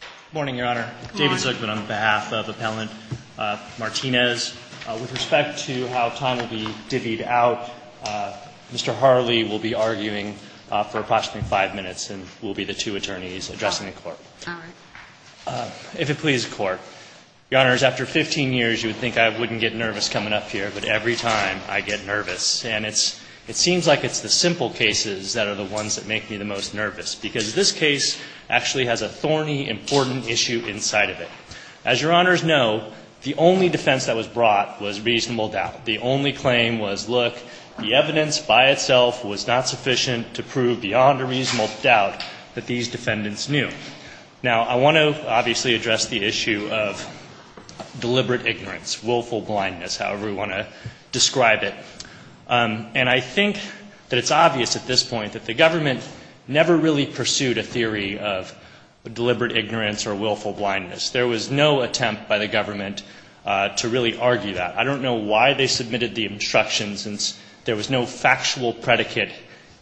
Good morning, Your Honor. Good morning. David Zucman on behalf of Appellant Martinez. With respect to how time will be divvied out, Mr. Harley will be arguing for approximately five minutes and will be the two attorneys addressing the Court. All right. If it please the Court, Your Honors, after 15 years you would think I wouldn't get nervous coming up here, but every time I get nervous. And it seems like it's the simple cases that are the ones that make me the most nervous, because this case actually has a thorny, important issue inside of it. As Your Honors know, the only defense that was brought was reasonable doubt. The only claim was, look, the evidence by itself was not sufficient to prove beyond a reasonable doubt that these defendants knew. Now, I want to obviously address the issue of deliberate ignorance, willful blindness, however we want to describe it. And I think that it's obvious at this point that the government never really pursued a theory of deliberate ignorance or willful blindness. There was no attempt by the government to really argue that. I don't know why they submitted the instruction since there was no factual predicate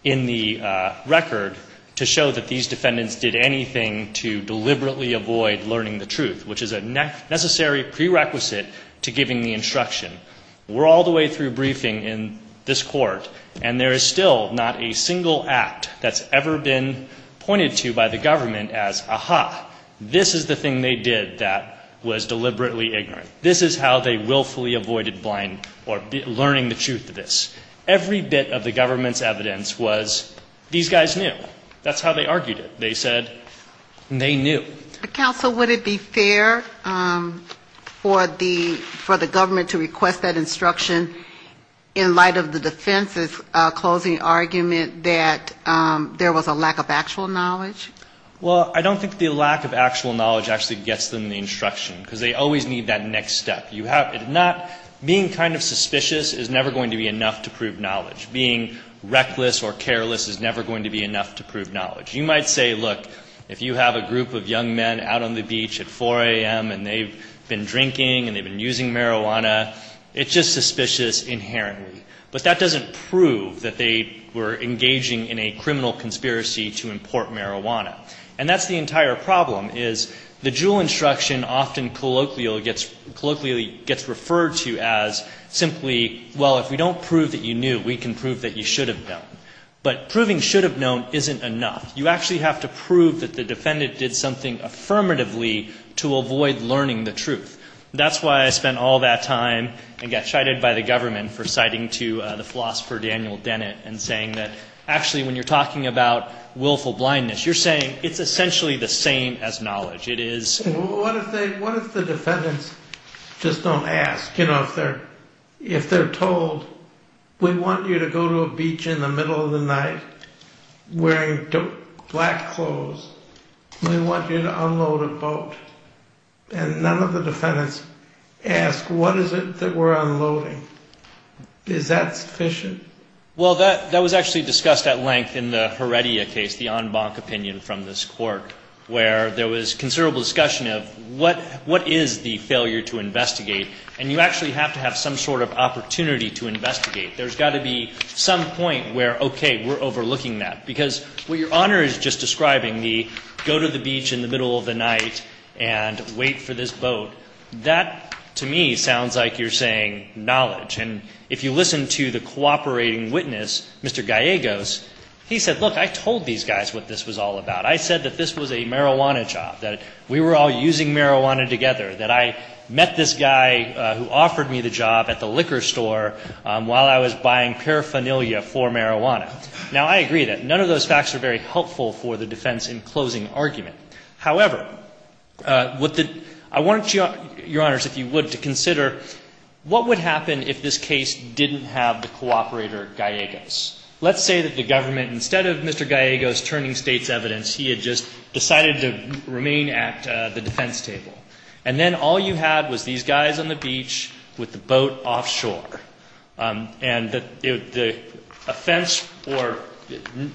in the record to show that these defendants did anything to deliberately avoid learning the truth, which is a necessary prerequisite to giving the instruction. We're all the way through briefing in this court, and there is still not a single act that's ever been pointed to by the government as, aha, this is the thing they did that was deliberately ignorant. This is how they willfully avoided blind or learning the truth of this. Every bit of the government's evidence was these guys knew. That's how they argued it. They said they knew. Counsel, would it be fair for the government to request that instruction in light of the defense's closing argument that there was a lack of actual knowledge? Well, I don't think the lack of actual knowledge actually gets them the instruction, because they always need that next step. Being kind of suspicious is never going to be enough to prove knowledge. Being reckless or careless is never going to be enough to prove knowledge. You might say, look, if you have a group of young men out on the beach at 4 a.m. and they've been drinking and they've been using marijuana, it's just suspicious inherently. But that doesn't prove that they were engaging in a criminal conspiracy to import marijuana. And that's the entire problem, is the Juul instruction often colloquially gets referred to as simply, well, if we don't prove that you knew, we can prove that you should have known. But proving should have known isn't enough. You actually have to prove that the defendant did something affirmatively to avoid learning the truth. That's why I spent all that time and got chided by the government for citing to the philosopher Daniel Dennett and saying that actually when you're talking about willful blindness, you're saying it's essentially the same as knowledge. What if the defendants just don't ask? If they're told, we want you to go to a beach in the middle of the night wearing black clothes, we want you to unload a boat, and none of the defendants ask, what is it that we're unloading? Is that sufficient? Well, that was actually discussed at length in the Heredia case, the en banc opinion from this court, where there was considerable discussion of what is the failure to investigate, and you actually have to have some sort of opportunity to investigate. There's got to be some point where, okay, we're overlooking that. Because what your Honor is just describing, the go to the beach in the middle of the night and wait for this boat, that to me sounds like you're saying knowledge. And if you listen to the cooperating witness, Mr. Gallegos, he said, look, I told these guys what this was all about. I said that this was a marijuana job, that we were all using marijuana together, that I met this guy who offered me the job at the liquor store while I was buying paraphernalia for marijuana. Now, I agree that none of those facts are very helpful for the defense in closing argument. However, I want you, Your Honors, if you would, to consider what would happen if this case didn't have the cooperator Gallegos. Let's say that the government, instead of Mr. Gallegos turning state's evidence, he had just decided to remain at the defense table. And then all you had was these guys on the beach with the boat offshore. And the offense or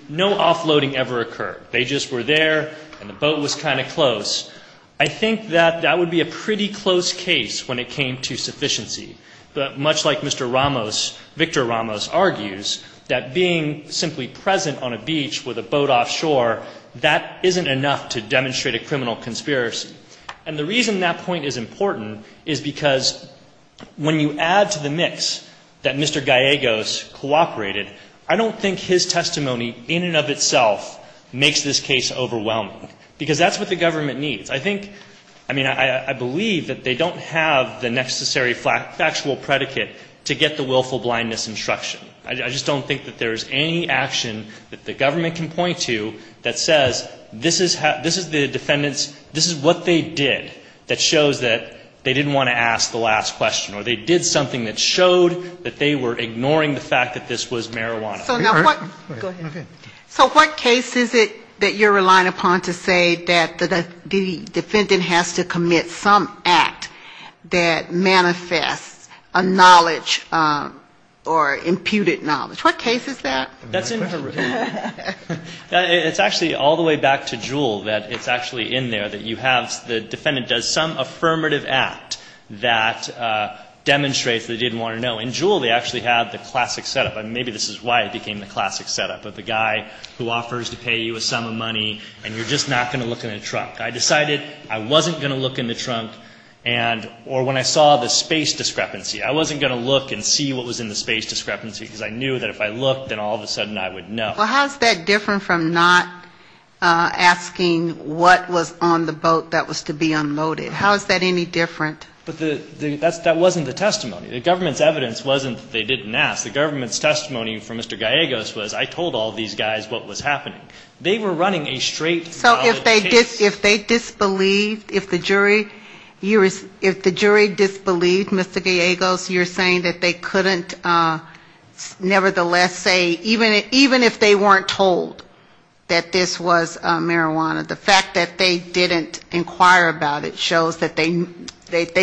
no offloading ever occurred. They just were there, and the boat was kind of close. I think that that would be a pretty close case when it came to sufficiency. But much like Mr. Ramos, Victor Ramos argues that being simply present on a beach with a boat offshore, that isn't enough to demonstrate a criminal conspiracy. And the reason that point is important is because when you add to the mix that Mr. Gallegos cooperated, I don't think his testimony in and of itself makes this case overwhelming, because that's what the government needs. I think, I mean, I believe that they don't have the necessary factual predicate to get the willful blindness instruction. I just don't think that there is any action that the government can point to that says this is the defendant's, this is what they did that shows that they didn't want to ask the last question, or they did something that showed that they were ignoring the fact that this was marijuana. Go ahead. Okay. So what case is it that you're relying upon to say that the defendant has to commit some act that manifests a knowledge or imputed knowledge? What case is that? It's actually all the way back to Jewell, that it's actually in there, that you have the defendant does some affirmative act that demonstrates they didn't want to know. In Jewell, they actually had the classic setup. Maybe this is why it became the classic setup of the guy who offers to pay you a sum of money, and you're just not going to look in the trunk. I decided I wasn't going to look in the trunk, or when I saw the space discrepancy, I wasn't going to look and see what was in the space discrepancy, because I knew that if I looked, then all of a sudden I would know. Well, how is that different from not asking what was on the boat that was to be unloaded? How is that any different? But that wasn't the testimony. The government's evidence wasn't that they didn't ask. The government's testimony for Mr. Gallegos was I told all these guys what was happening. They were running a straight knowledge case. So if they disbelieved, if the jury, if the jury disbelieved Mr. Gallegos, you're saying that they couldn't nevertheless say, even if they weren't told that this was marijuana, the fact that they didn't inquire about it shows that they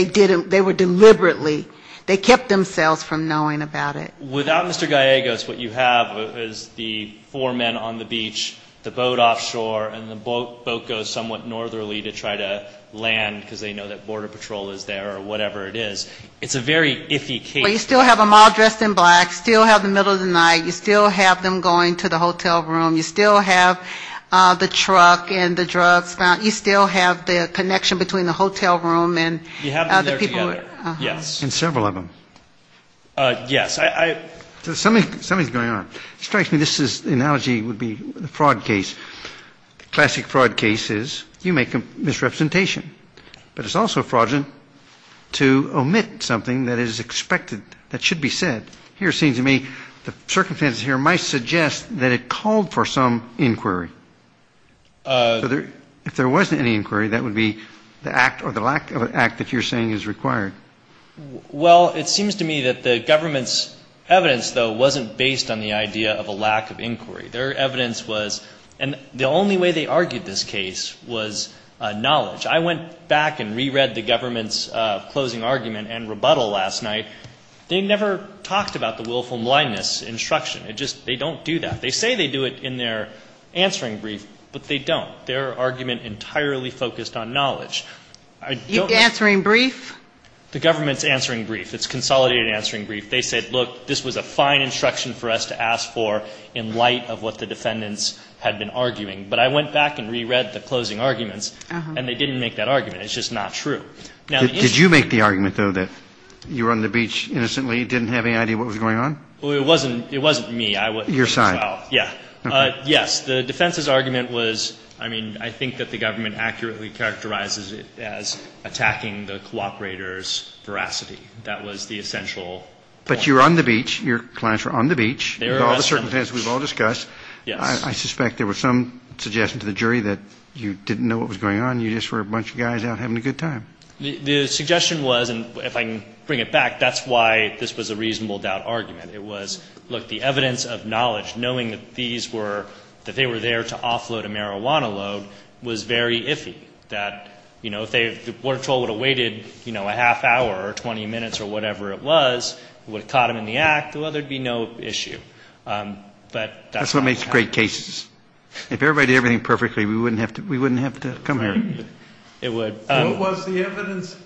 didn't, they were deliberately, they kept themselves from knowing about it. Without Mr. Gallegos, what you have is the four men on the beach, the boat offshore, and the boat goes somewhat northerly to try to land, because they know that border patrol is there or whatever it is. It's a very iffy case. Well, you still have them all dressed in black, still have the middle of the night, you still have them going to the hotel room, you still have the truck and the drugs found, you still have the connection between the hotel room and the people. Yes. And several of them. Yes. Something is going on. It strikes me this analogy would be the fraud case. The classic fraud case is you make a misrepresentation, but it's also fraudulent to omit something that is expected, that should be said. Here it seems to me the circumstances here might suggest that it called for some inquiry. If there wasn't any inquiry, that would be the act or the lack of an act that you're saying is required. Well, it seems to me that the government's evidence, though, wasn't based on the idea of a lack of inquiry. Their evidence was, and the only way they argued this case was knowledge. I went back and reread the government's closing argument and rebuttal last night. They never talked about the willful blindness instruction. It just, they don't do that. They say they do it in their answering brief, but they don't. Their argument entirely focused on knowledge. Answering brief? The government's answering brief. It's consolidated answering brief. They said, look, this was a fine instruction for us to ask for in light of what the defendants had been arguing. But I went back and reread the closing arguments, and they didn't make that argument. It's just not true. Did you make the argument, though, that you were on the beach innocently, didn't have any idea what was going on? Well, it wasn't me. Your side. Yes. The defense's argument was, I mean, I think that the government accurately characterizes it as attacking the cooperator's veracity. That was the essential point. But you were on the beach. Your clients were on the beach. They were on the beach. With all the circumstances we've all discussed. Yes. I suspect there was some suggestion to the jury that you didn't know what was going on. You just were a bunch of guys out having a good time. The suggestion was, and if I can bring it back, that's why this was a reasonable doubt argument. It was, look, the evidence of knowledge, knowing that these were, that they were there to offload a marijuana load, was very iffy. That, you know, if they, the water troll would have waited, you know, a half hour or 20 minutes or whatever it was, it would have caught them in the act, well, there would be no issue. But that's what happens. That's what makes great cases. If everybody did everything perfectly, we wouldn't have to come here. It would. What was the evidence,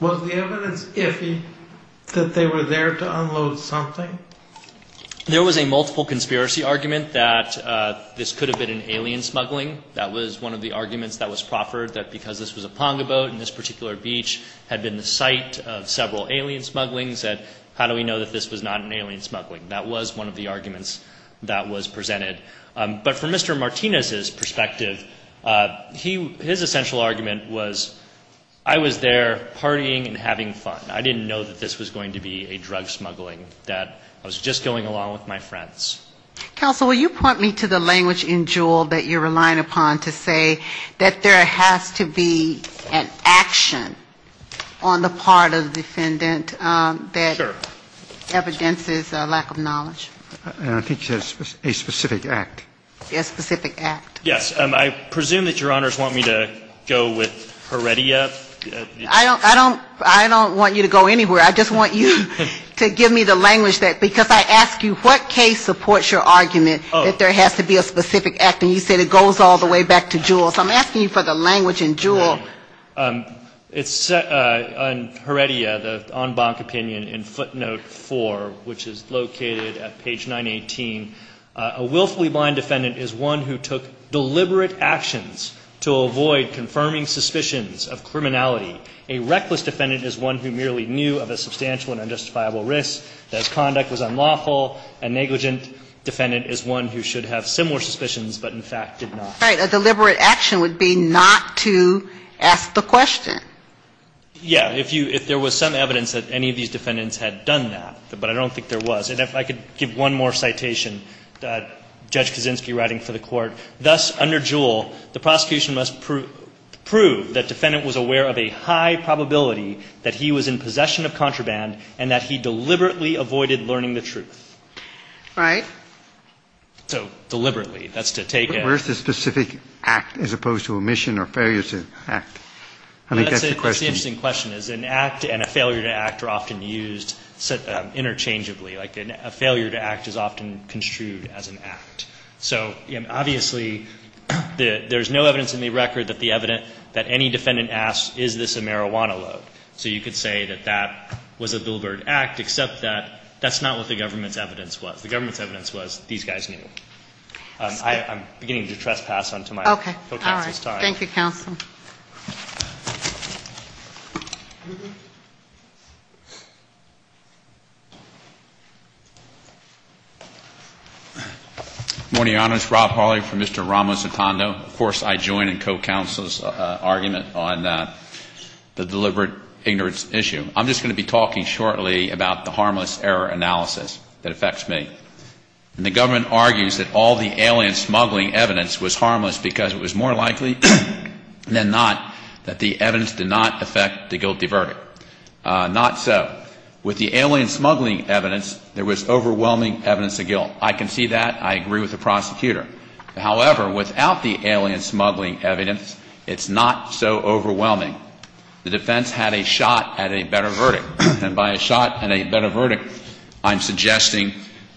was the evidence iffy that they were there to unload something? There was a multiple conspiracy argument that this could have been an alien smuggling. That was one of the arguments that was proffered, that because this was a Ponga boat and this particular beach had been the site of several alien smugglings, that how do we know that this was not an alien smuggling? That was one of the arguments that was presented. But from Mr. Martinez's perspective, his essential argument was, I was there partying and having fun. I didn't know that this was going to be a drug smuggling, that I was just going along with my friends. Counsel, will you point me to the language in Jewell that you're relying upon to say that there has to be an action on the part of the defendant a specific act? A specific act. Yes. I presume that Your Honors want me to go with Heredia. I don't want you to go anywhere. I just want you to give me the language, because I ask you, what case supports your argument that there has to be a specific act? And you said it goes all the way back to Jewell. So I'm asking you for the language in Jewell. It's Heredia, the en banc opinion in footnote 4, which is located at page 918. A willfully blind defendant is one who took deliberate actions to avoid confirming suspicions of criminality. A reckless defendant is one who merely knew of a substantial and unjustifiable risk, that his conduct was unlawful. A negligent defendant is one who should have similar suspicions, but in fact did not. Right. A deliberate action would be not to ask the question. Yeah. If there was some evidence that any of these defendants had done that, but I don't think there was. And if I could give one more citation, Judge Kaczynski writing for the court, thus under Jewell, the prosecution must prove that defendant was aware of a high probability that he was in possession of contraband and that he deliberately avoided learning the truth. Right. So deliberately. That's to take it. Where's the specific act as opposed to omission or failure to act? I think that's the question. That's the interesting question, is an act and a failure to act are often used interchangeably. Like a failure to act is often construed as an act. So obviously there's no evidence in the record that the evidence that any defendant asks, is this a marijuana load? So you could say that that was a deliberate act, except that that's not what the government's evidence was. The government's evidence was these guys knew. I'm beginning to trespass onto my co-counsel's time. Okay. All right. Thank you, Counsel. Good morning, Your Honors. Rob Hawley for Mr. Ramos-Otondo. Of course I join in co-counsel's argument on the deliberate ignorance issue. I'm just going to be talking shortly about the harmless error analysis that affects me. The government argues that all the alien smuggling evidence was harmless because it was more likely than not that the evidence did not affect the guilty verdict. Not so. With the alien smuggling evidence, there was overwhelming evidence of guilt. I can see that. I agree with the prosecutor. However, without the alien smuggling evidence, it's not so overwhelming. The defense had a shot at a better verdict. And by a shot at a better verdict, I'm suggesting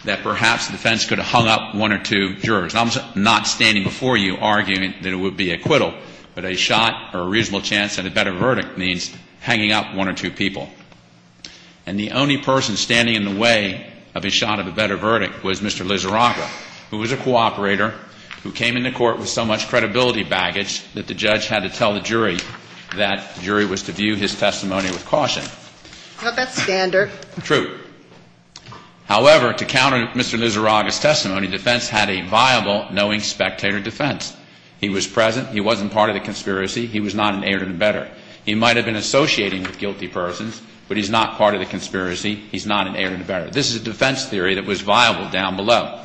that perhaps the defense could have hung up one or two jurors. I'm not standing before you arguing that it would be acquittal, but a shot or a reasonable chance at a better verdict means hanging up one or two people. And the only person standing in the way of a shot at a better verdict was Mr. Lizaraka, who was a cooperator, who came into court with so much credibility baggage that the judge had to tell the jury that the jury was to view his testimony with caution. Well, that's standard. True. However, to counter Mr. Lizaraka's testimony, defense had a viable knowing spectator defense. He was present. He wasn't part of the conspiracy. He was not an heir to the better. He might have been associating with guilty persons, but he's not part of the conspiracy. He's not an heir to the better. This is a defense theory that was viable down below.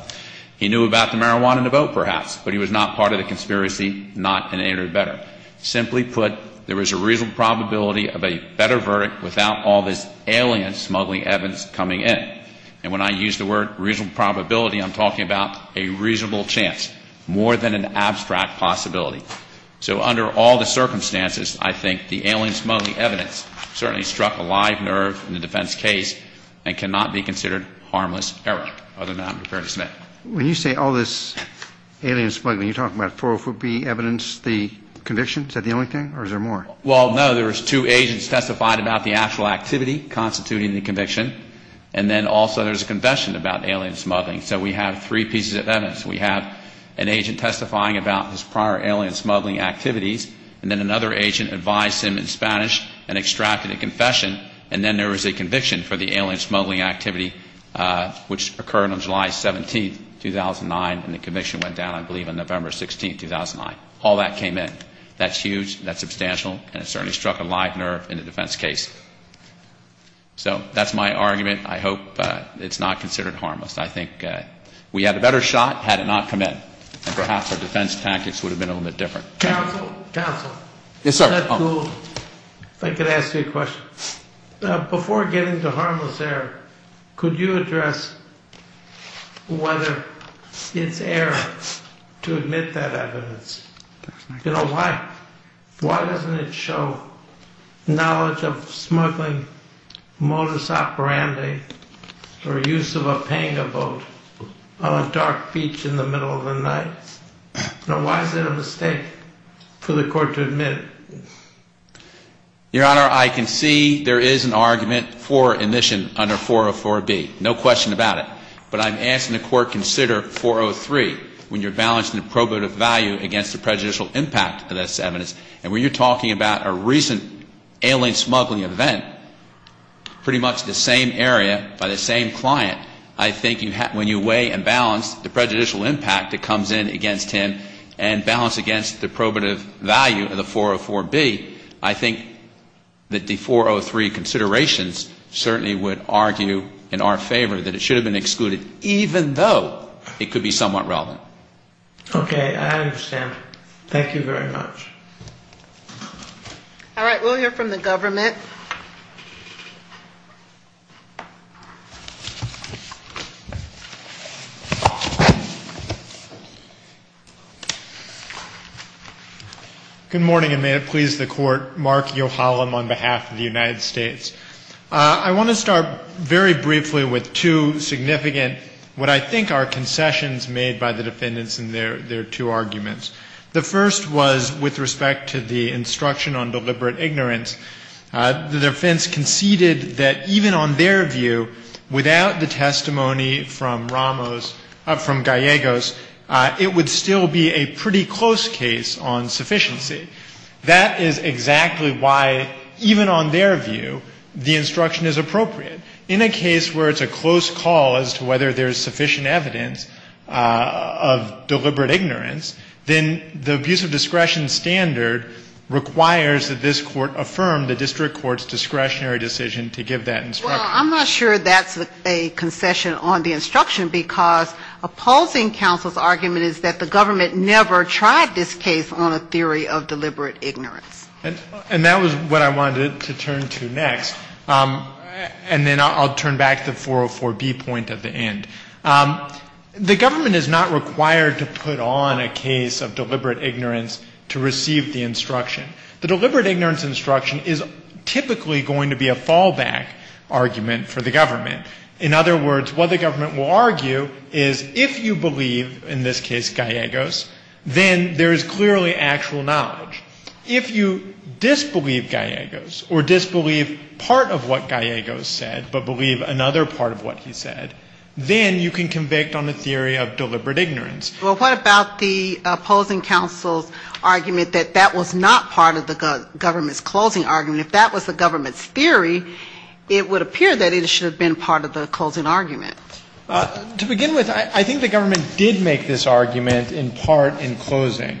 He knew about the marijuana in the boat, perhaps, but he was not part of the conspiracy, not an heir to the better. Simply put, there was a reasonable probability of a better verdict without all this alien smuggling evidence coming in. And when I use the word reasonable probability, I'm talking about a reasonable chance, more than an abstract possibility. So under all the circumstances, I think the alien smuggling evidence certainly struck a live nerve in the defense case and cannot be considered harmless error, other than I'm referring to Smith. When you say all this alien smuggling, you're talking about 404B evidence, the conviction? Is that the only thing, or is there more? Well, no. There was two agents testified about the actual activity constituting the conviction, and then also there's a confession about alien smuggling. So we have three pieces of evidence. We have an agent testifying about his prior alien smuggling activities, and then another agent advised him in Spanish and extracted a confession, and then there was a conviction for the alien smuggling activity, which occurred on July 17, 2009, and the conviction went down, I believe, on November 16, 2009. All that came in. That's huge, that's substantial, and it certainly struck a live nerve in the defense case. So that's my argument. I hope it's not considered harmless. I think we had a better shot had it not come in, and perhaps our defense tactics would have been a little bit different. Counsel? Counsel? Yes, sir. If I could ask you a question. Before getting to harmless error, could you address whether it's error to admit that evidence? You know, why doesn't it show knowledge of smuggling modus operandi or use of a panga boat on a dark beach in the middle of the night? You know, why is it a mistake for the court to admit? Your Honor, I can see there is an argument for admission under 404B, no question about it, but I'm asking the court to consider 403 when you're balancing the probative value against the prejudicial impact of this evidence, and when you're talking about a recent alien smuggling event, pretty much the same area by the same client, I think when you weigh and balance the prejudicial impact that comes in against him and balance against the probative value of the 404B, I think that the 403 considerations certainly would argue in our favor that it should have been excluded, even though it could be somewhat relevant. Okay. I understand. Thank you very much. All right. We'll hear from the government. Good morning, and may it please the Court. Mark Yohalam on behalf of the United States. I want to start very briefly with two significant what I think are concessions made by the defendants in their two arguments. The first was with respect to the instruction on deliberate ignorance. The defense conceded that even on their view, without the testimony from Ramos, from Gallegos, it would still be a pretty close case on sufficiency. That is exactly why, even on their view, the instruction is appropriate. In a case where it's a close call as to whether there's sufficient evidence of deliberate ignorance, then the abuse of discretion standard requires that this Court affirm the district court's discretionary decision to give that instruction. Well, I'm not sure that's a concession on the instruction, because opposing counsel's argument is that the government never tried this case on a theory of deliberate ignorance. And that was what I wanted to turn to next. And then I'll turn back to the 404B point at the end. The government is not required to put on a case of deliberate ignorance to receive the instruction. The deliberate ignorance instruction is typically going to be a fallback argument for the government. In other words, what the government will argue is if you believe, in this case Gallegos, then there is clearly actual knowledge. If you disbelieve Gallegos or disbelieve part of what Gallegos said but believe another part of what he said, then you can convict on a theory of deliberate ignorance. Well, what about the opposing counsel's argument that that was not part of the government's closing argument? If that was the government's theory, it would appear that it should have been part of the closing argument. To begin with, I think the government did make this argument in part in closing,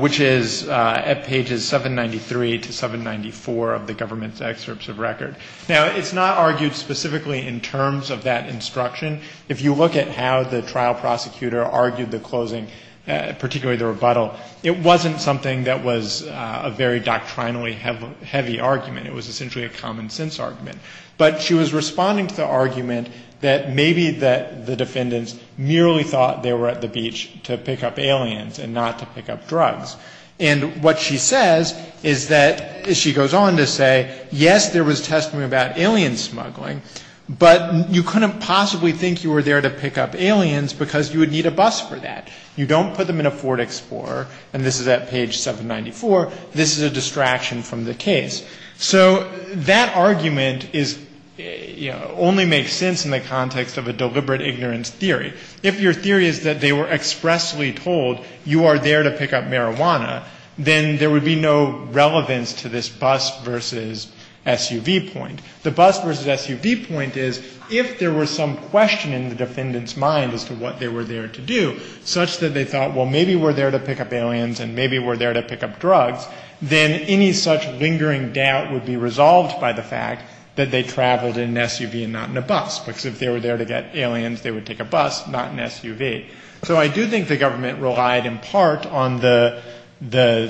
which is at pages 793 to 794 of the government's excerpts of record. Now, it's not argued specifically in terms of that instruction. If you look at how the trial prosecutor argued the closing, particularly the rebuttal, it wasn't something that was a very doctrinally heavy argument. It was essentially a common sense argument. But she was responding to the argument that maybe the defendants merely thought they were at the beach to pick up aliens and not to pick up drugs. And what she says is that she goes on to say, yes, there was testimony about alien smuggling, but you couldn't possibly think you were there to pick up aliens because you would need a bus for that. You don't put them in a Ford Explorer, and this is at page 794. This is a distraction from the case. So that argument is, you know, only makes sense in the context of a deliberate ignorance theory. If your theory is that they were expressly told you are there to pick up marijuana, then there would be no relevance to this bus versus SUV point. The bus versus SUV point is if there were some question in the defendant's mind as to what they were there to do, such that they thought, well, maybe we're there to pick up aliens and maybe we're there to pick up drugs, then any such lingering doubt would be resolved by the fact that they traveled in an SUV and not in a bus, because if they were there to get aliens, they would take a bus, not an SUV. So I do think the government relied in part on the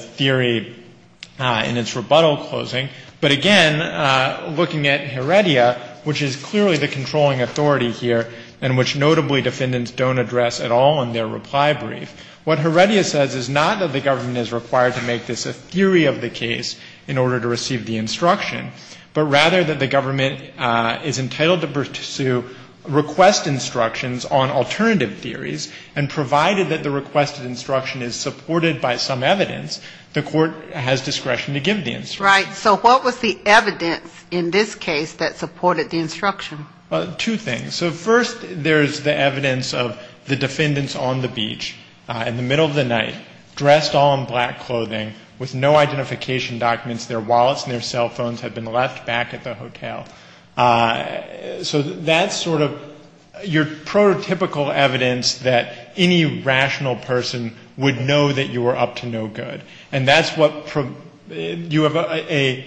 theory in its rebuttal closing. But again, looking at Heredia, which is clearly the controlling authority here and which notably defendants don't address at all in their reply brief, what Heredia says is not that the government is required to make this a theory of the case in order to receive the instruction, but rather that the government is entitled to pursue request instructions on alternative theories, and provided that the requested instruction is supported by some evidence, the court has discretion to give the instruction. Right. So what was the evidence in this case that supported the instruction? Well, two things. So first there's the evidence of the defendants on the beach in the middle of the night, dressed all in black clothing, with no identification documents. Their wallets and their cell phones had been left back at the hotel. So that's sort of your prototypical evidence that any rational person would know that you were up to no good. And that's what you have a,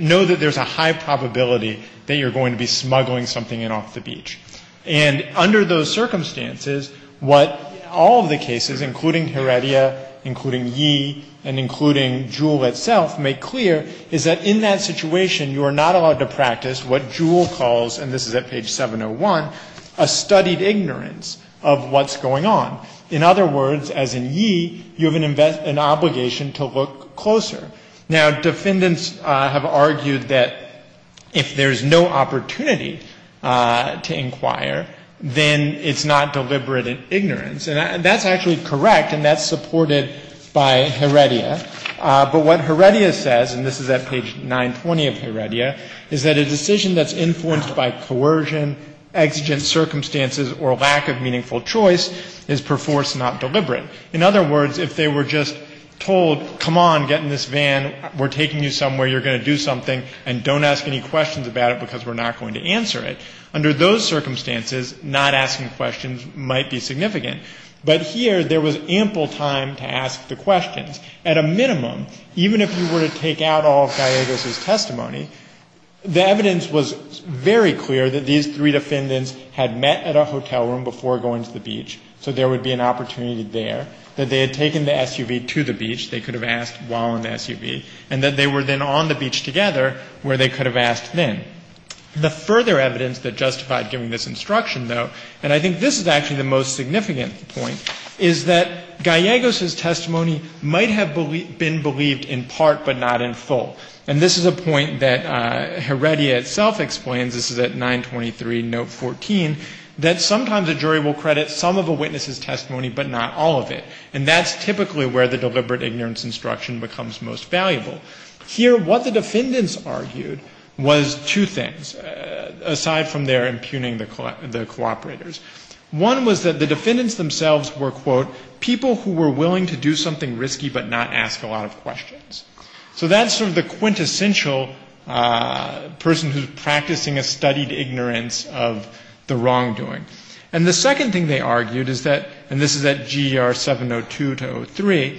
know that there's a high probability that you're going to be smuggling something in off the beach. And under those circumstances, what all of the cases, including Heredia, including Yee, and including Jewell itself, make clear is that in that situation, you are not allowed to practice what Jewell calls, and this is at page 701, a studied ignorance of what's going on. In other words, as in Yee, you have an obligation to look closer. Now, defendants have argued that if there's no opportunity to engage in an investigation, then it's not deliberate ignorance. And that's actually correct, and that's supported by Heredia. But what Heredia says, and this is at page 920 of Heredia, is that a decision that's influenced by coercion, exigent circumstances, or lack of meaningful choice is perforce not deliberate. In other words, if they were just told, come on, get in this van, we're taking you somewhere, you're going to do something, and don't ask any questions about it, because we're not going to answer it, under those circumstances, not asking questions might be significant. But here, there was ample time to ask the questions. At a minimum, even if you were to take out all of Gallegos' testimony, the evidence was very clear that these three defendants had met at a hotel room before going to the beach, so there would be an opportunity there, that they had taken the SUV to the beach, they could have asked while in the SUV, and that they were then on the beach together, where they could have asked then. The further evidence that justified giving this instruction, though, and I think this is actually the most significant point, is that Gallegos' testimony might have been believed in part, but not in full. And this is a point that Heredia itself explains, this is at 923, note 14, that sometimes a jury will credit some of a witness's testimony, but not all of it. And that's typically where the deliberate ignorance instruction becomes most valuable. Here, what the defendants argued was two things, aside from their impugning the cooperators. One was that the defendants themselves were, quote, people who were willing to do something risky, but not ask a lot of questions. So that's sort of the quintessential person who's practicing a studied ignorance of the wrongdoing. And the second thing they argued is that, and this is at GER 702-03,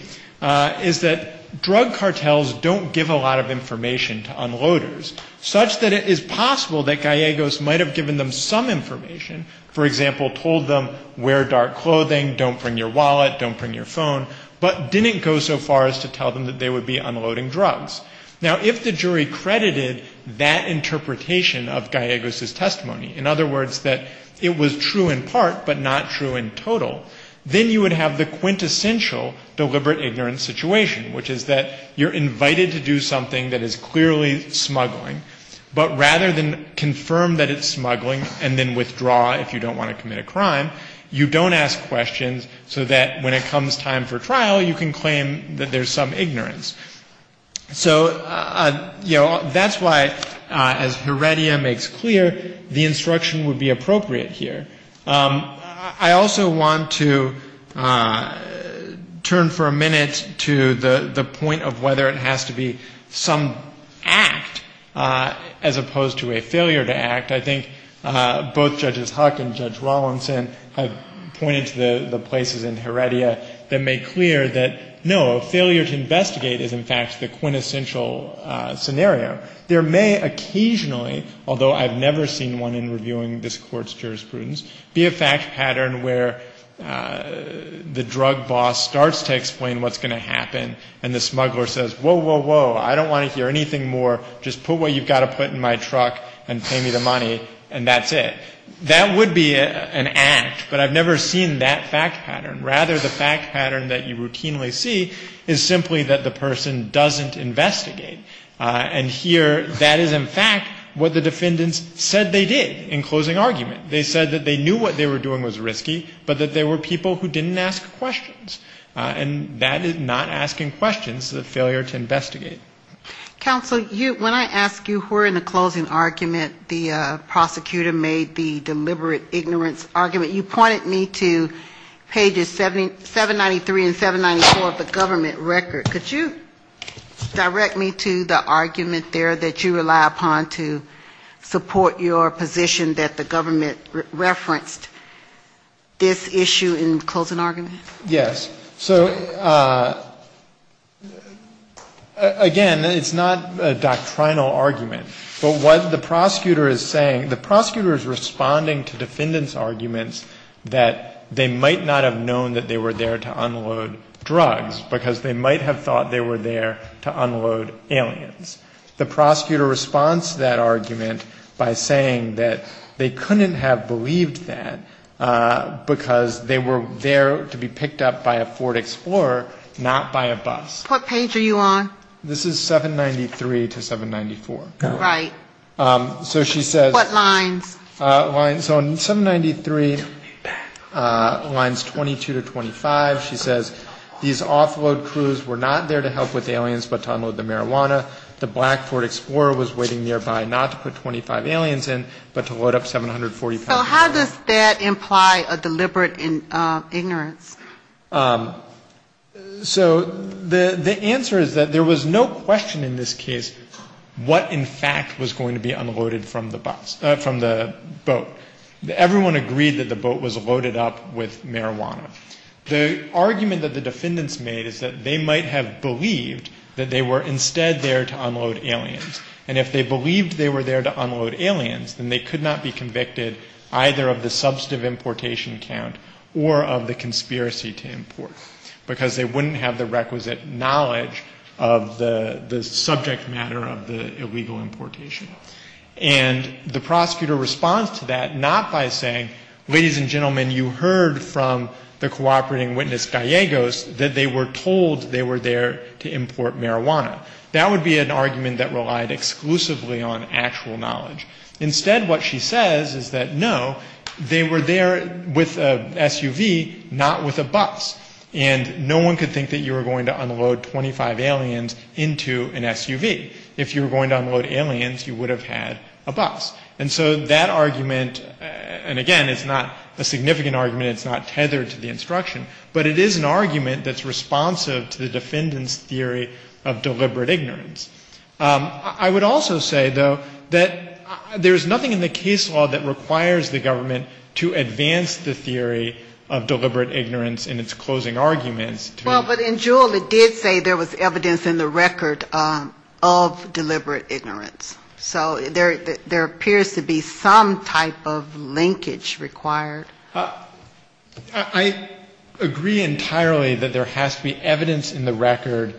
is that drug cartels don't give a lot of information to unloaders, such that it is possible that Gallegos might have given them some information, for example, told them wear dark clothing, don't bring your wallet, don't bring your phone, but didn't go so far as to tell them that they would be unloading drugs. Now, if the jury credited that interpretation of Gallegos' testimony, in other words, that it was true in part, but not true in total, then you would have the quintessential deliberate ignorance situation, which is that you're invited to do something that is clearly smuggling, but rather than confirm that it's smuggling and then withdraw if you don't want to commit a crime, you don't ask questions so that when it comes time for trial, you can claim that there's some ignorance. So, you know, that's why, as Heredia makes clear, the instruction would be appropriate here. I also want to turn for a minute to the point of whether it has to be some act as opposed to a failure to act. I think both Judges Huck and Judge Rawlinson have pointed to the places in Heredia that make clear that, no, a failure to investigate is, in fact, the quintessential scenario. There may occasionally, although I've never seen one in reviewing this Court's jurisprudence, be a fact pattern where the drug boss starts to explain what's going to happen and the smuggler says, whoa, whoa, whoa, I don't want to hear anything more. Just put what you've got to put in my truck and pay me the money and that's it. That would be an act, but I've never seen that fact pattern. Rather, the fact pattern that you routinely see is simply that the person doesn't investigate. And here that is, in fact, what the defendants said they did in closing argument. They said that they knew what they were doing was risky, but that they were people who didn't ask questions. And that is not asking questions, the failure to investigate. Counsel, when I ask you who are in the closing argument, the prosecutor made the deliberate ignorance argument. You pointed me to pages 793 and 794 of the government record. Could you direct me to the argument there that you rely upon to support your position that the government referenced this issue in closing argument? Yes. So, again, it's not a doctrinal argument. But what the prosecutor is saying, the prosecutor is responding to defendants' arguments that they might not have known that they were there to unload drugs, because they might have thought they were there to unload aliens. The prosecutor responds to that argument by saying that they couldn't have believed that, because they were there to be picked up by a Ford Explorer, not by a bus. What page are you on? This is 793 to 794. Right. So she says... What lines? So on 793, lines 22 to 25, she says, these offload crews were not there to help with aliens, but to unload the marijuana. The black Ford Explorer was waiting nearby not to put 25 aliens in, but to load up 745. So how does that imply a deliberate ignorance? So the answer is that there was no question in this case what, in fact, was going to be unloaded from the boat. Everyone agreed that the boat was loaded up with marijuana. The argument that the defendants made is that they might have believed that they were instead there to unload aliens. And if they believed they were there to unload aliens, then they could not be convicted either of the substantive importation count or of the conspiracy to import, because they wouldn't have the requisite knowledge of the subject matter of the illegal importation. And the prosecutor responds to that not by saying, ladies and gentlemen, you heard from the cooperating witness Gallegos that they were told they were there to import marijuana. That would be an argument that relied exclusively on actual knowledge. Instead, what she says is that, no, they were there with a SUV, not with a bus. And no one could think that you were going to unload 25 aliens into an SUV. If you were going to unload aliens, you would have had a bus. And so that argument, and again, it's not a significant argument. It's not tethered to the instruction. But it is an argument that's responsive to the defendant's theory of deliberate ignorance. I would also say, though, that there's nothing in the case law that requires the government to advance the theory of deliberate ignorance in its closing arguments. Well, but in Juul it did say there was evidence in the record of deliberate ignorance. So there appears to be some type of linkage required. I agree entirely that there has to be evidence in the record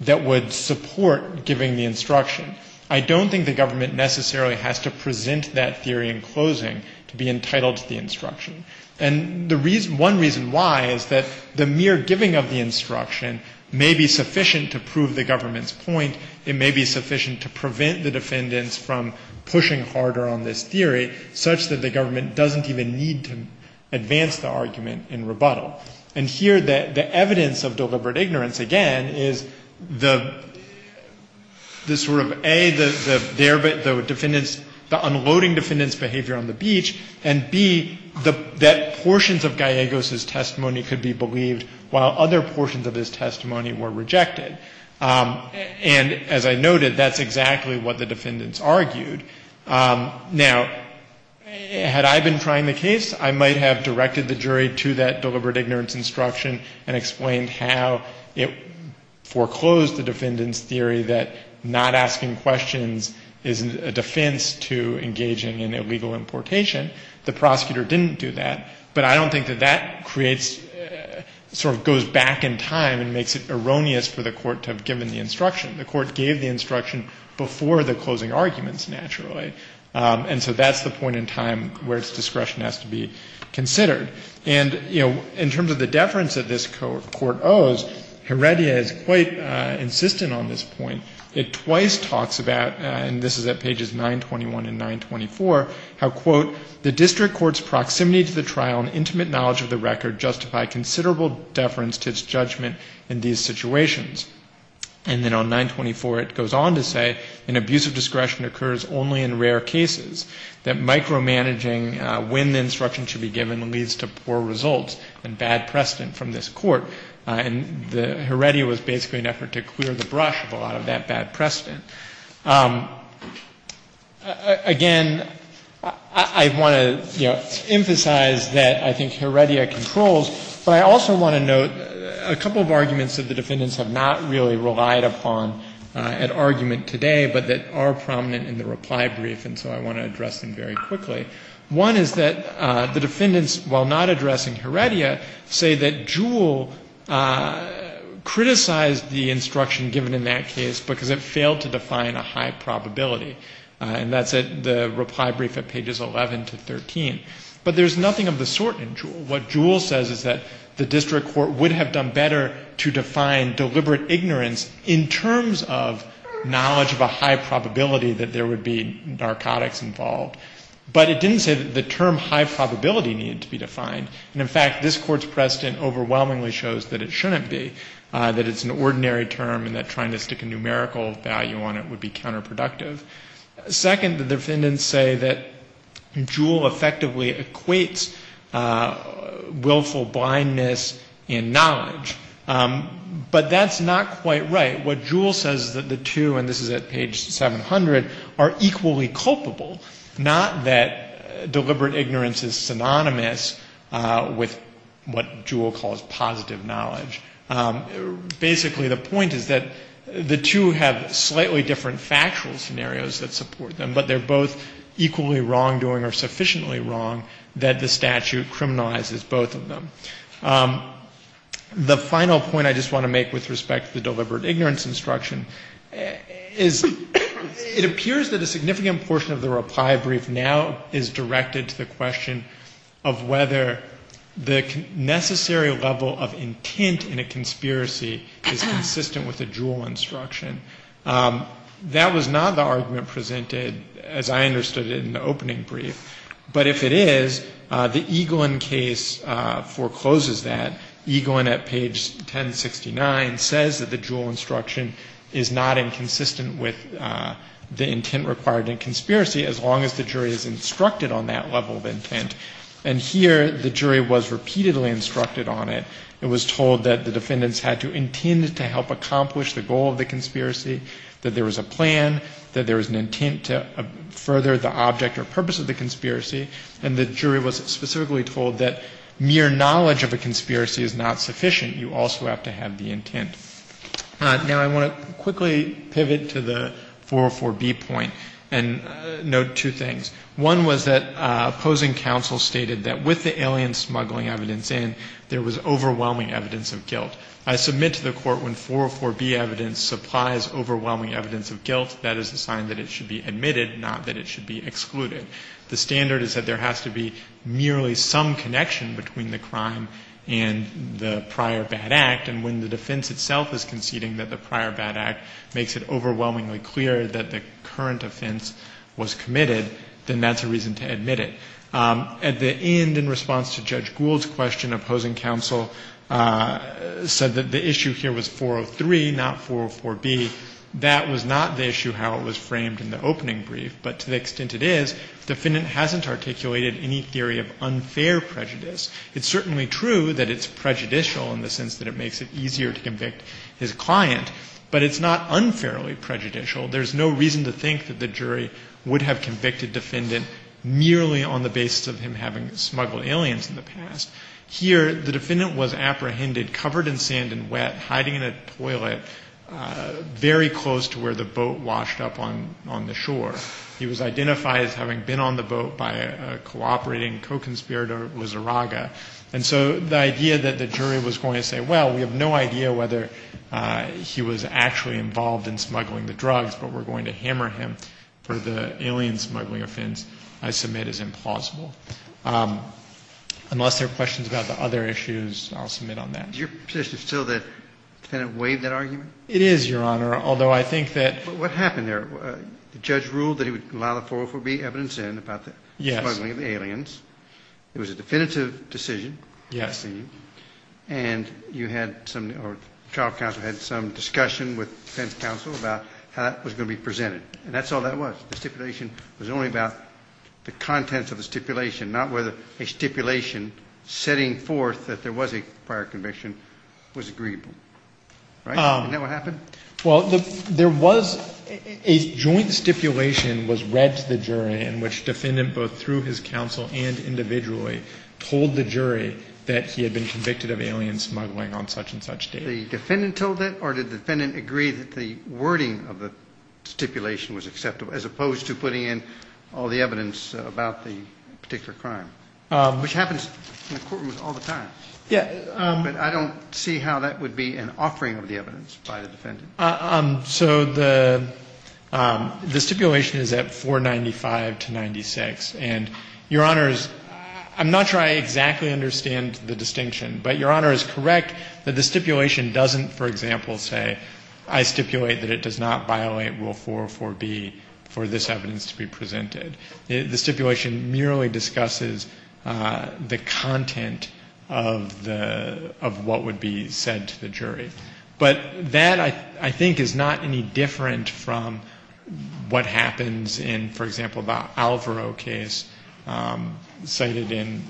that would support giving the instruction. I don't think the government necessarily has to present that theory in closing to be entitled to the instruction. And the reason, one reason why is that the mere giving of the instruction may be sufficient to prove the government's point. It may be sufficient to prevent the defendants from pushing harder on this theory, such that the government doesn't even need to advance the argument in rebuttal. And here the evidence of deliberate ignorance, again, is the sort of A, the defendants, the unloading defendants' behavior on the beach, and B, that portions of Gallegos' testimony could be believed while other portions of his testimony were rejected. And as I noted, that's exactly what the defendants argued. Now, had I been trying the case, I might have directed the jury to that deliberate ignorance instruction and explained how it foreclosed the defendants' theory that not asking questions is a defense to engaging in illegal importation. The prosecutor didn't do that. But I don't think that that creates, sort of goes back in time and makes it erroneous for the Court to have given the instruction. The Court gave the instruction before the closing arguments, naturally. And so that's the point in time where its discretion has to be considered. And, you know, in terms of the deference that this Court owes, Heredia is quite insistent on this point. It twice talks about, and this is at pages 921 and 924, how, quote, the district court's proximity to the trial and intimate knowledge of the record justify considerable deference to its judgment in these situations. And then on 924, it goes on to say, an abuse of discretion occurs only in rare cases. That micromanaging when the instruction should be given leads to poor results and bad precedent from this Court. And Heredia was basically an effort to clear the brush of a lot of that bad precedent. Again, I want to, you know, emphasize that I think Heredia controls. But I also want to note a couple of arguments that the defendants have not really relied upon at argument today, but that are prominent in the reply brief, and so I want to address them very quickly. One is that the defendants, while not addressing Heredia, say that Jewell criticized the instruction given in that case, because it failed to define a high probability. And that's at the reply brief at pages 11 to 13. But there's nothing of the sort in Jewell. What Jewell says is that the district court would have done better to define deliberate ignorance in terms of knowledge of a high probability that there would be narcotics involved. But it didn't say that the term high probability needed to be defined. And, in fact, this Court's precedent overwhelmingly shows that it shouldn't be, that it's an ordinary term and that trying to stick a numerical value on it would be counterproductive. Second, the defendants say that Jewell effectively equates willful blindness in knowledge. But that's not quite right. What Jewell says is that the two, and this is at page 700, are equally culpable, not that deliberate ignorance is synonymous with what Jewell calls positive knowledge. Basically, the point is that the two have slightly different factual scenarios that support them, but they're both equally wrongdoing or sufficiently wrong that the statute criminalizes both of them. The final point I just want to make with respect to the deliberate ignorance instruction is, it appears that a significant portion of the reply brief now is directed to the question of whether the necessary level of intent in the case of Jewell is sufficient or not. And the question is whether the intent required in a conspiracy is consistent with the Jewell instruction. That was not the argument presented, as I understood it, in the opening brief. But if it is, the Eaglin case forecloses that. Eaglin at page 1069 says that the Jewell instruction is not inconsistent with the intent required in a conspiracy, as long as the jury is instructed on that level of intent. And here, the jury was repeatedly instructed on it. It was told that the defendants had to intend to help accomplish the goal of the conspiracy, that there was a plan, that there was an intent to further the object or purpose of the conspiracy. And the jury was specifically told that mere knowledge of a conspiracy is not sufficient. Now, I want to quickly pivot to the 404B point and note two things. One was that opposing counsel stated that with the alien smuggling evidence in, there was overwhelming evidence of guilt. I submit to the Court, when 404B evidence supplies overwhelming evidence of guilt, that is a sign that it should be admitted, not that it should be excluded. The standard is that there has to be merely some connection between the crime and the prior bad act. And when the defense itself is conceding that the prior bad act makes it overwhelmingly clear that the current offense was committed, then that's a reason to admit it. At the end, in response to Judge Gould's question, opposing counsel said that the issue here was 403, not 404B. That was not the issue how it was framed in the opening brief. But to the extent it is, the defendant hasn't articulated any theory of unfair prejudice. It's certainly true that it's prejudicial in the sense that it makes it easier to convict his client. But it's not unfairly prejudicial. There's no reason to think that the jury would have convicted defendant merely on the basis of him having smuggled aliens in the past. Here, the defendant was apprehended covered in sand and wet, hiding in a toilet very close to where the boat washed up on the shore. He was identified as having been on the boat by a cooperating co-conspirator, Wizaraga. And so the idea that the jury was going to say, well, we have no idea whether he was actually involved in smuggling the drugs, but we're going to hammer him for the alien smuggling offense, I submit is implausible. Unless there are questions about the other issues, I'll submit on that. Your position is still that the defendant waived that argument? It is, Your Honor, although I think that... But what happened there? The judge ruled that he would allow the 404B evidence in about the smuggling of the aliens. It was a definitive decision. And you had some, or the trial counsel had some discussion with defense counsel about how that was going to be presented. And that's all that was. The stipulation was only about the contents of the stipulation, not whether a stipulation setting forth that there was a prior conviction was agreeable. Right? Isn't that what happened? Well, there was a joint stipulation was read to the jury in which defendant, both through his counsel and individually, told the jury that he had been convicted of alien smuggling on such and such date. The defendant told that, or did the defendant agree that the wording of the stipulation was acceptable, as opposed to putting in all the evidence about the particular crime? Which happens in the courtrooms all the time. But I don't see how that would be an offering of the evidence by the defendant. So the stipulation is at 495 to 96. And, Your Honor, I'm not sure I exactly understand the distinction, but Your Honor is correct that the stipulation doesn't, for example, say, I stipulate that it does not violate Rule 404B for this evidence to be presented. The stipulation merely discusses the content of the, of what would be said to the jury. But that, I think, is not any different from what happens in, for example, the Alvaro case cited in,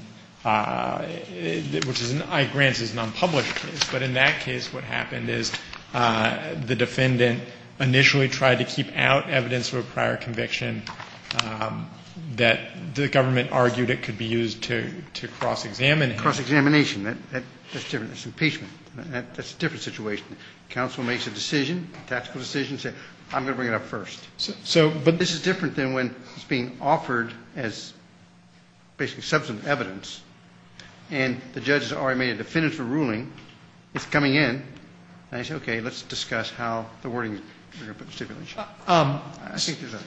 which is in Ike Grant's nonpublished case. But in that case, what happened is the defendant initially tried to keep out evidence of a prior conviction that the government argued it could be used to cross-examine him. Cross-examination, that's different. That's impeachment. That's a different situation. Counsel makes a decision, a tactical decision, say, I'm going to bring it up first. So, but this is different than when it's being offered as basically substantive evidence and the judge has already made a definitive ruling, it's coming in, and I say, okay, let's discuss how the wording stipulation. I think there's a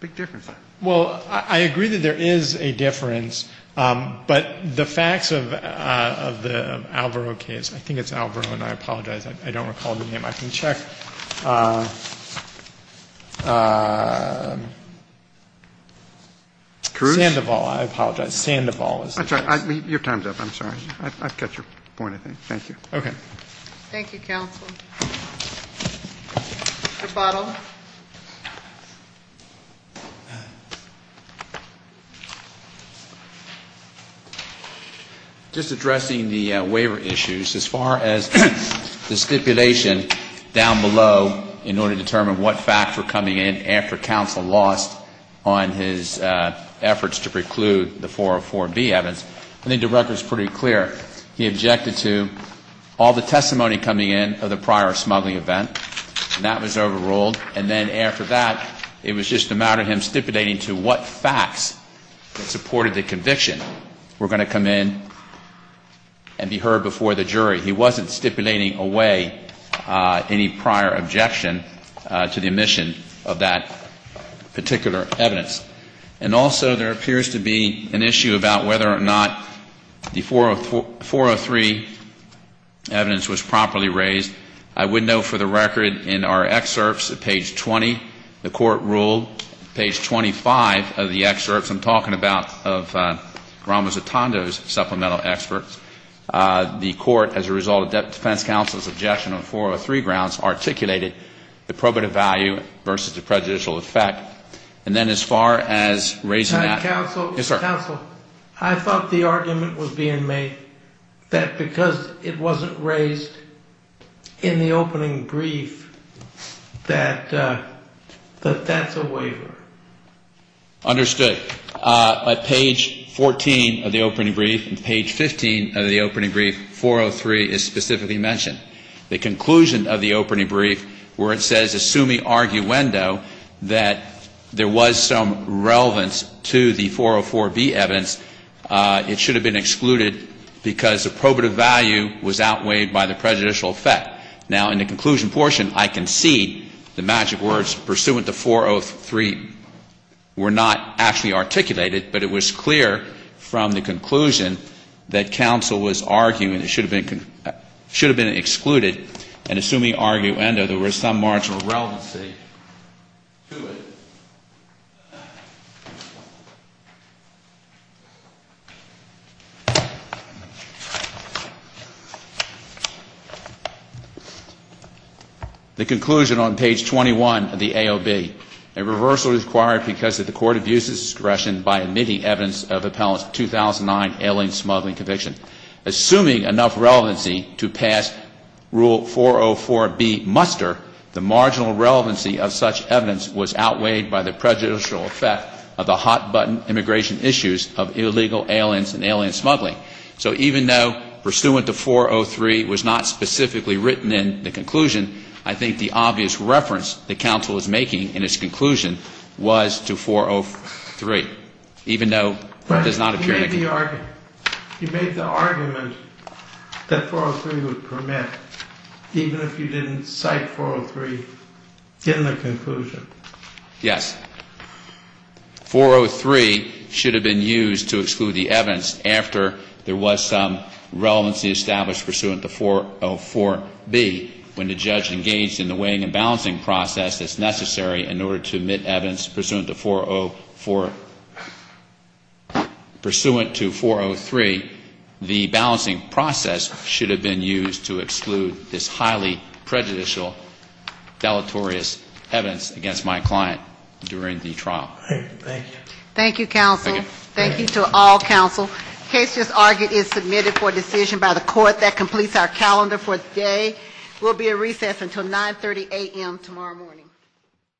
big difference there. Well, I agree that there is a difference, but the facts of the Alvaro case, I think it's Alvaro and I apologize, I don't recall the name. Sandoval, I apologize, Sandoval. I'm sorry, your time's up, I'm sorry. I've got your point, I think. Thank you. Okay. Thank you, counsel. Rebuttal. Just addressing the waiver issues, as far as the stipulation down below in order to determine what facts were coming in after counsel lost on his efforts to preclude the 404B evidence, I think the record's pretty clear. He objected to all the testimony coming in of the prior smuggling event, and that was overruled, and then after that, it was just a matter of him stipulating to what facts that supported the conviction were going to come in and be heard before the jury. He wasn't stipulating away any prior objection to the omission of that particular evidence. And also, there appears to be an issue about whether or not the 403 evidence was properly raised. I would note for the record in our excerpts at page 20, the court ruled, page 25 of the excerpts I'm talking about of Ramos Atando's supplemental experts, the court, as a result of defense counsel's objection on 403 grounds, articulated the probative value versus the prejudicial effect, and then as far as raising that. Counsel, I thought the argument was being made that because it wasn't raised in the opening brief, that that's a waiver. Understood. At page 14 of the opening brief, and page 15 of the opening brief, 403 is specifically mentioned. The conclusion of the opening brief where it says, assuming arguendo, that there was some relevance to the 404B evidence, it should have been excluded because the probative value was outweighed by the prejudicial effect. Now, in the conclusion portion, I can see the magic words, pursuant to 403, were not actually articulated, but it was clear from the conclusion that counsel was arguing it should have been excluded, and assuming arguendo, there was some marginal relevancy to it. The conclusion on page 21 of the AOB, a reversal is required because the court abuses discretion by omitting evidence of appellant's 2009 alien smuggling conviction. Assuming enough relevancy to pass rule 404B muster, the marginal relevancy of such evidence was outweighed by the prejudicial effect of the hot-button immigration issues of illegal aliens and alien smugglers, and in the conclusion, I think the obvious reference that counsel is making in its conclusion was to 403, even though it does not appear in the conclusion. You made the argument that 403 would permit, even if you didn't cite 403 in the conclusion. Yes. 403 should have been used to exclude the evidence after there was some relevancy established pursuant to 404B. When the judge engaged in the weighing and balancing process that's necessary in order to omit evidence pursuant to 404, pursuant to 403, the balancing process should have been used to exclude this highly prejudicial, deleterious evidence against my client during the trial. Thank you. Thank you, counsel. Thank you to all counsel. The case just argued is submitted for decision by the court. That completes our calendar for today. We'll be at recess until 9.30 a.m. tomorrow morning.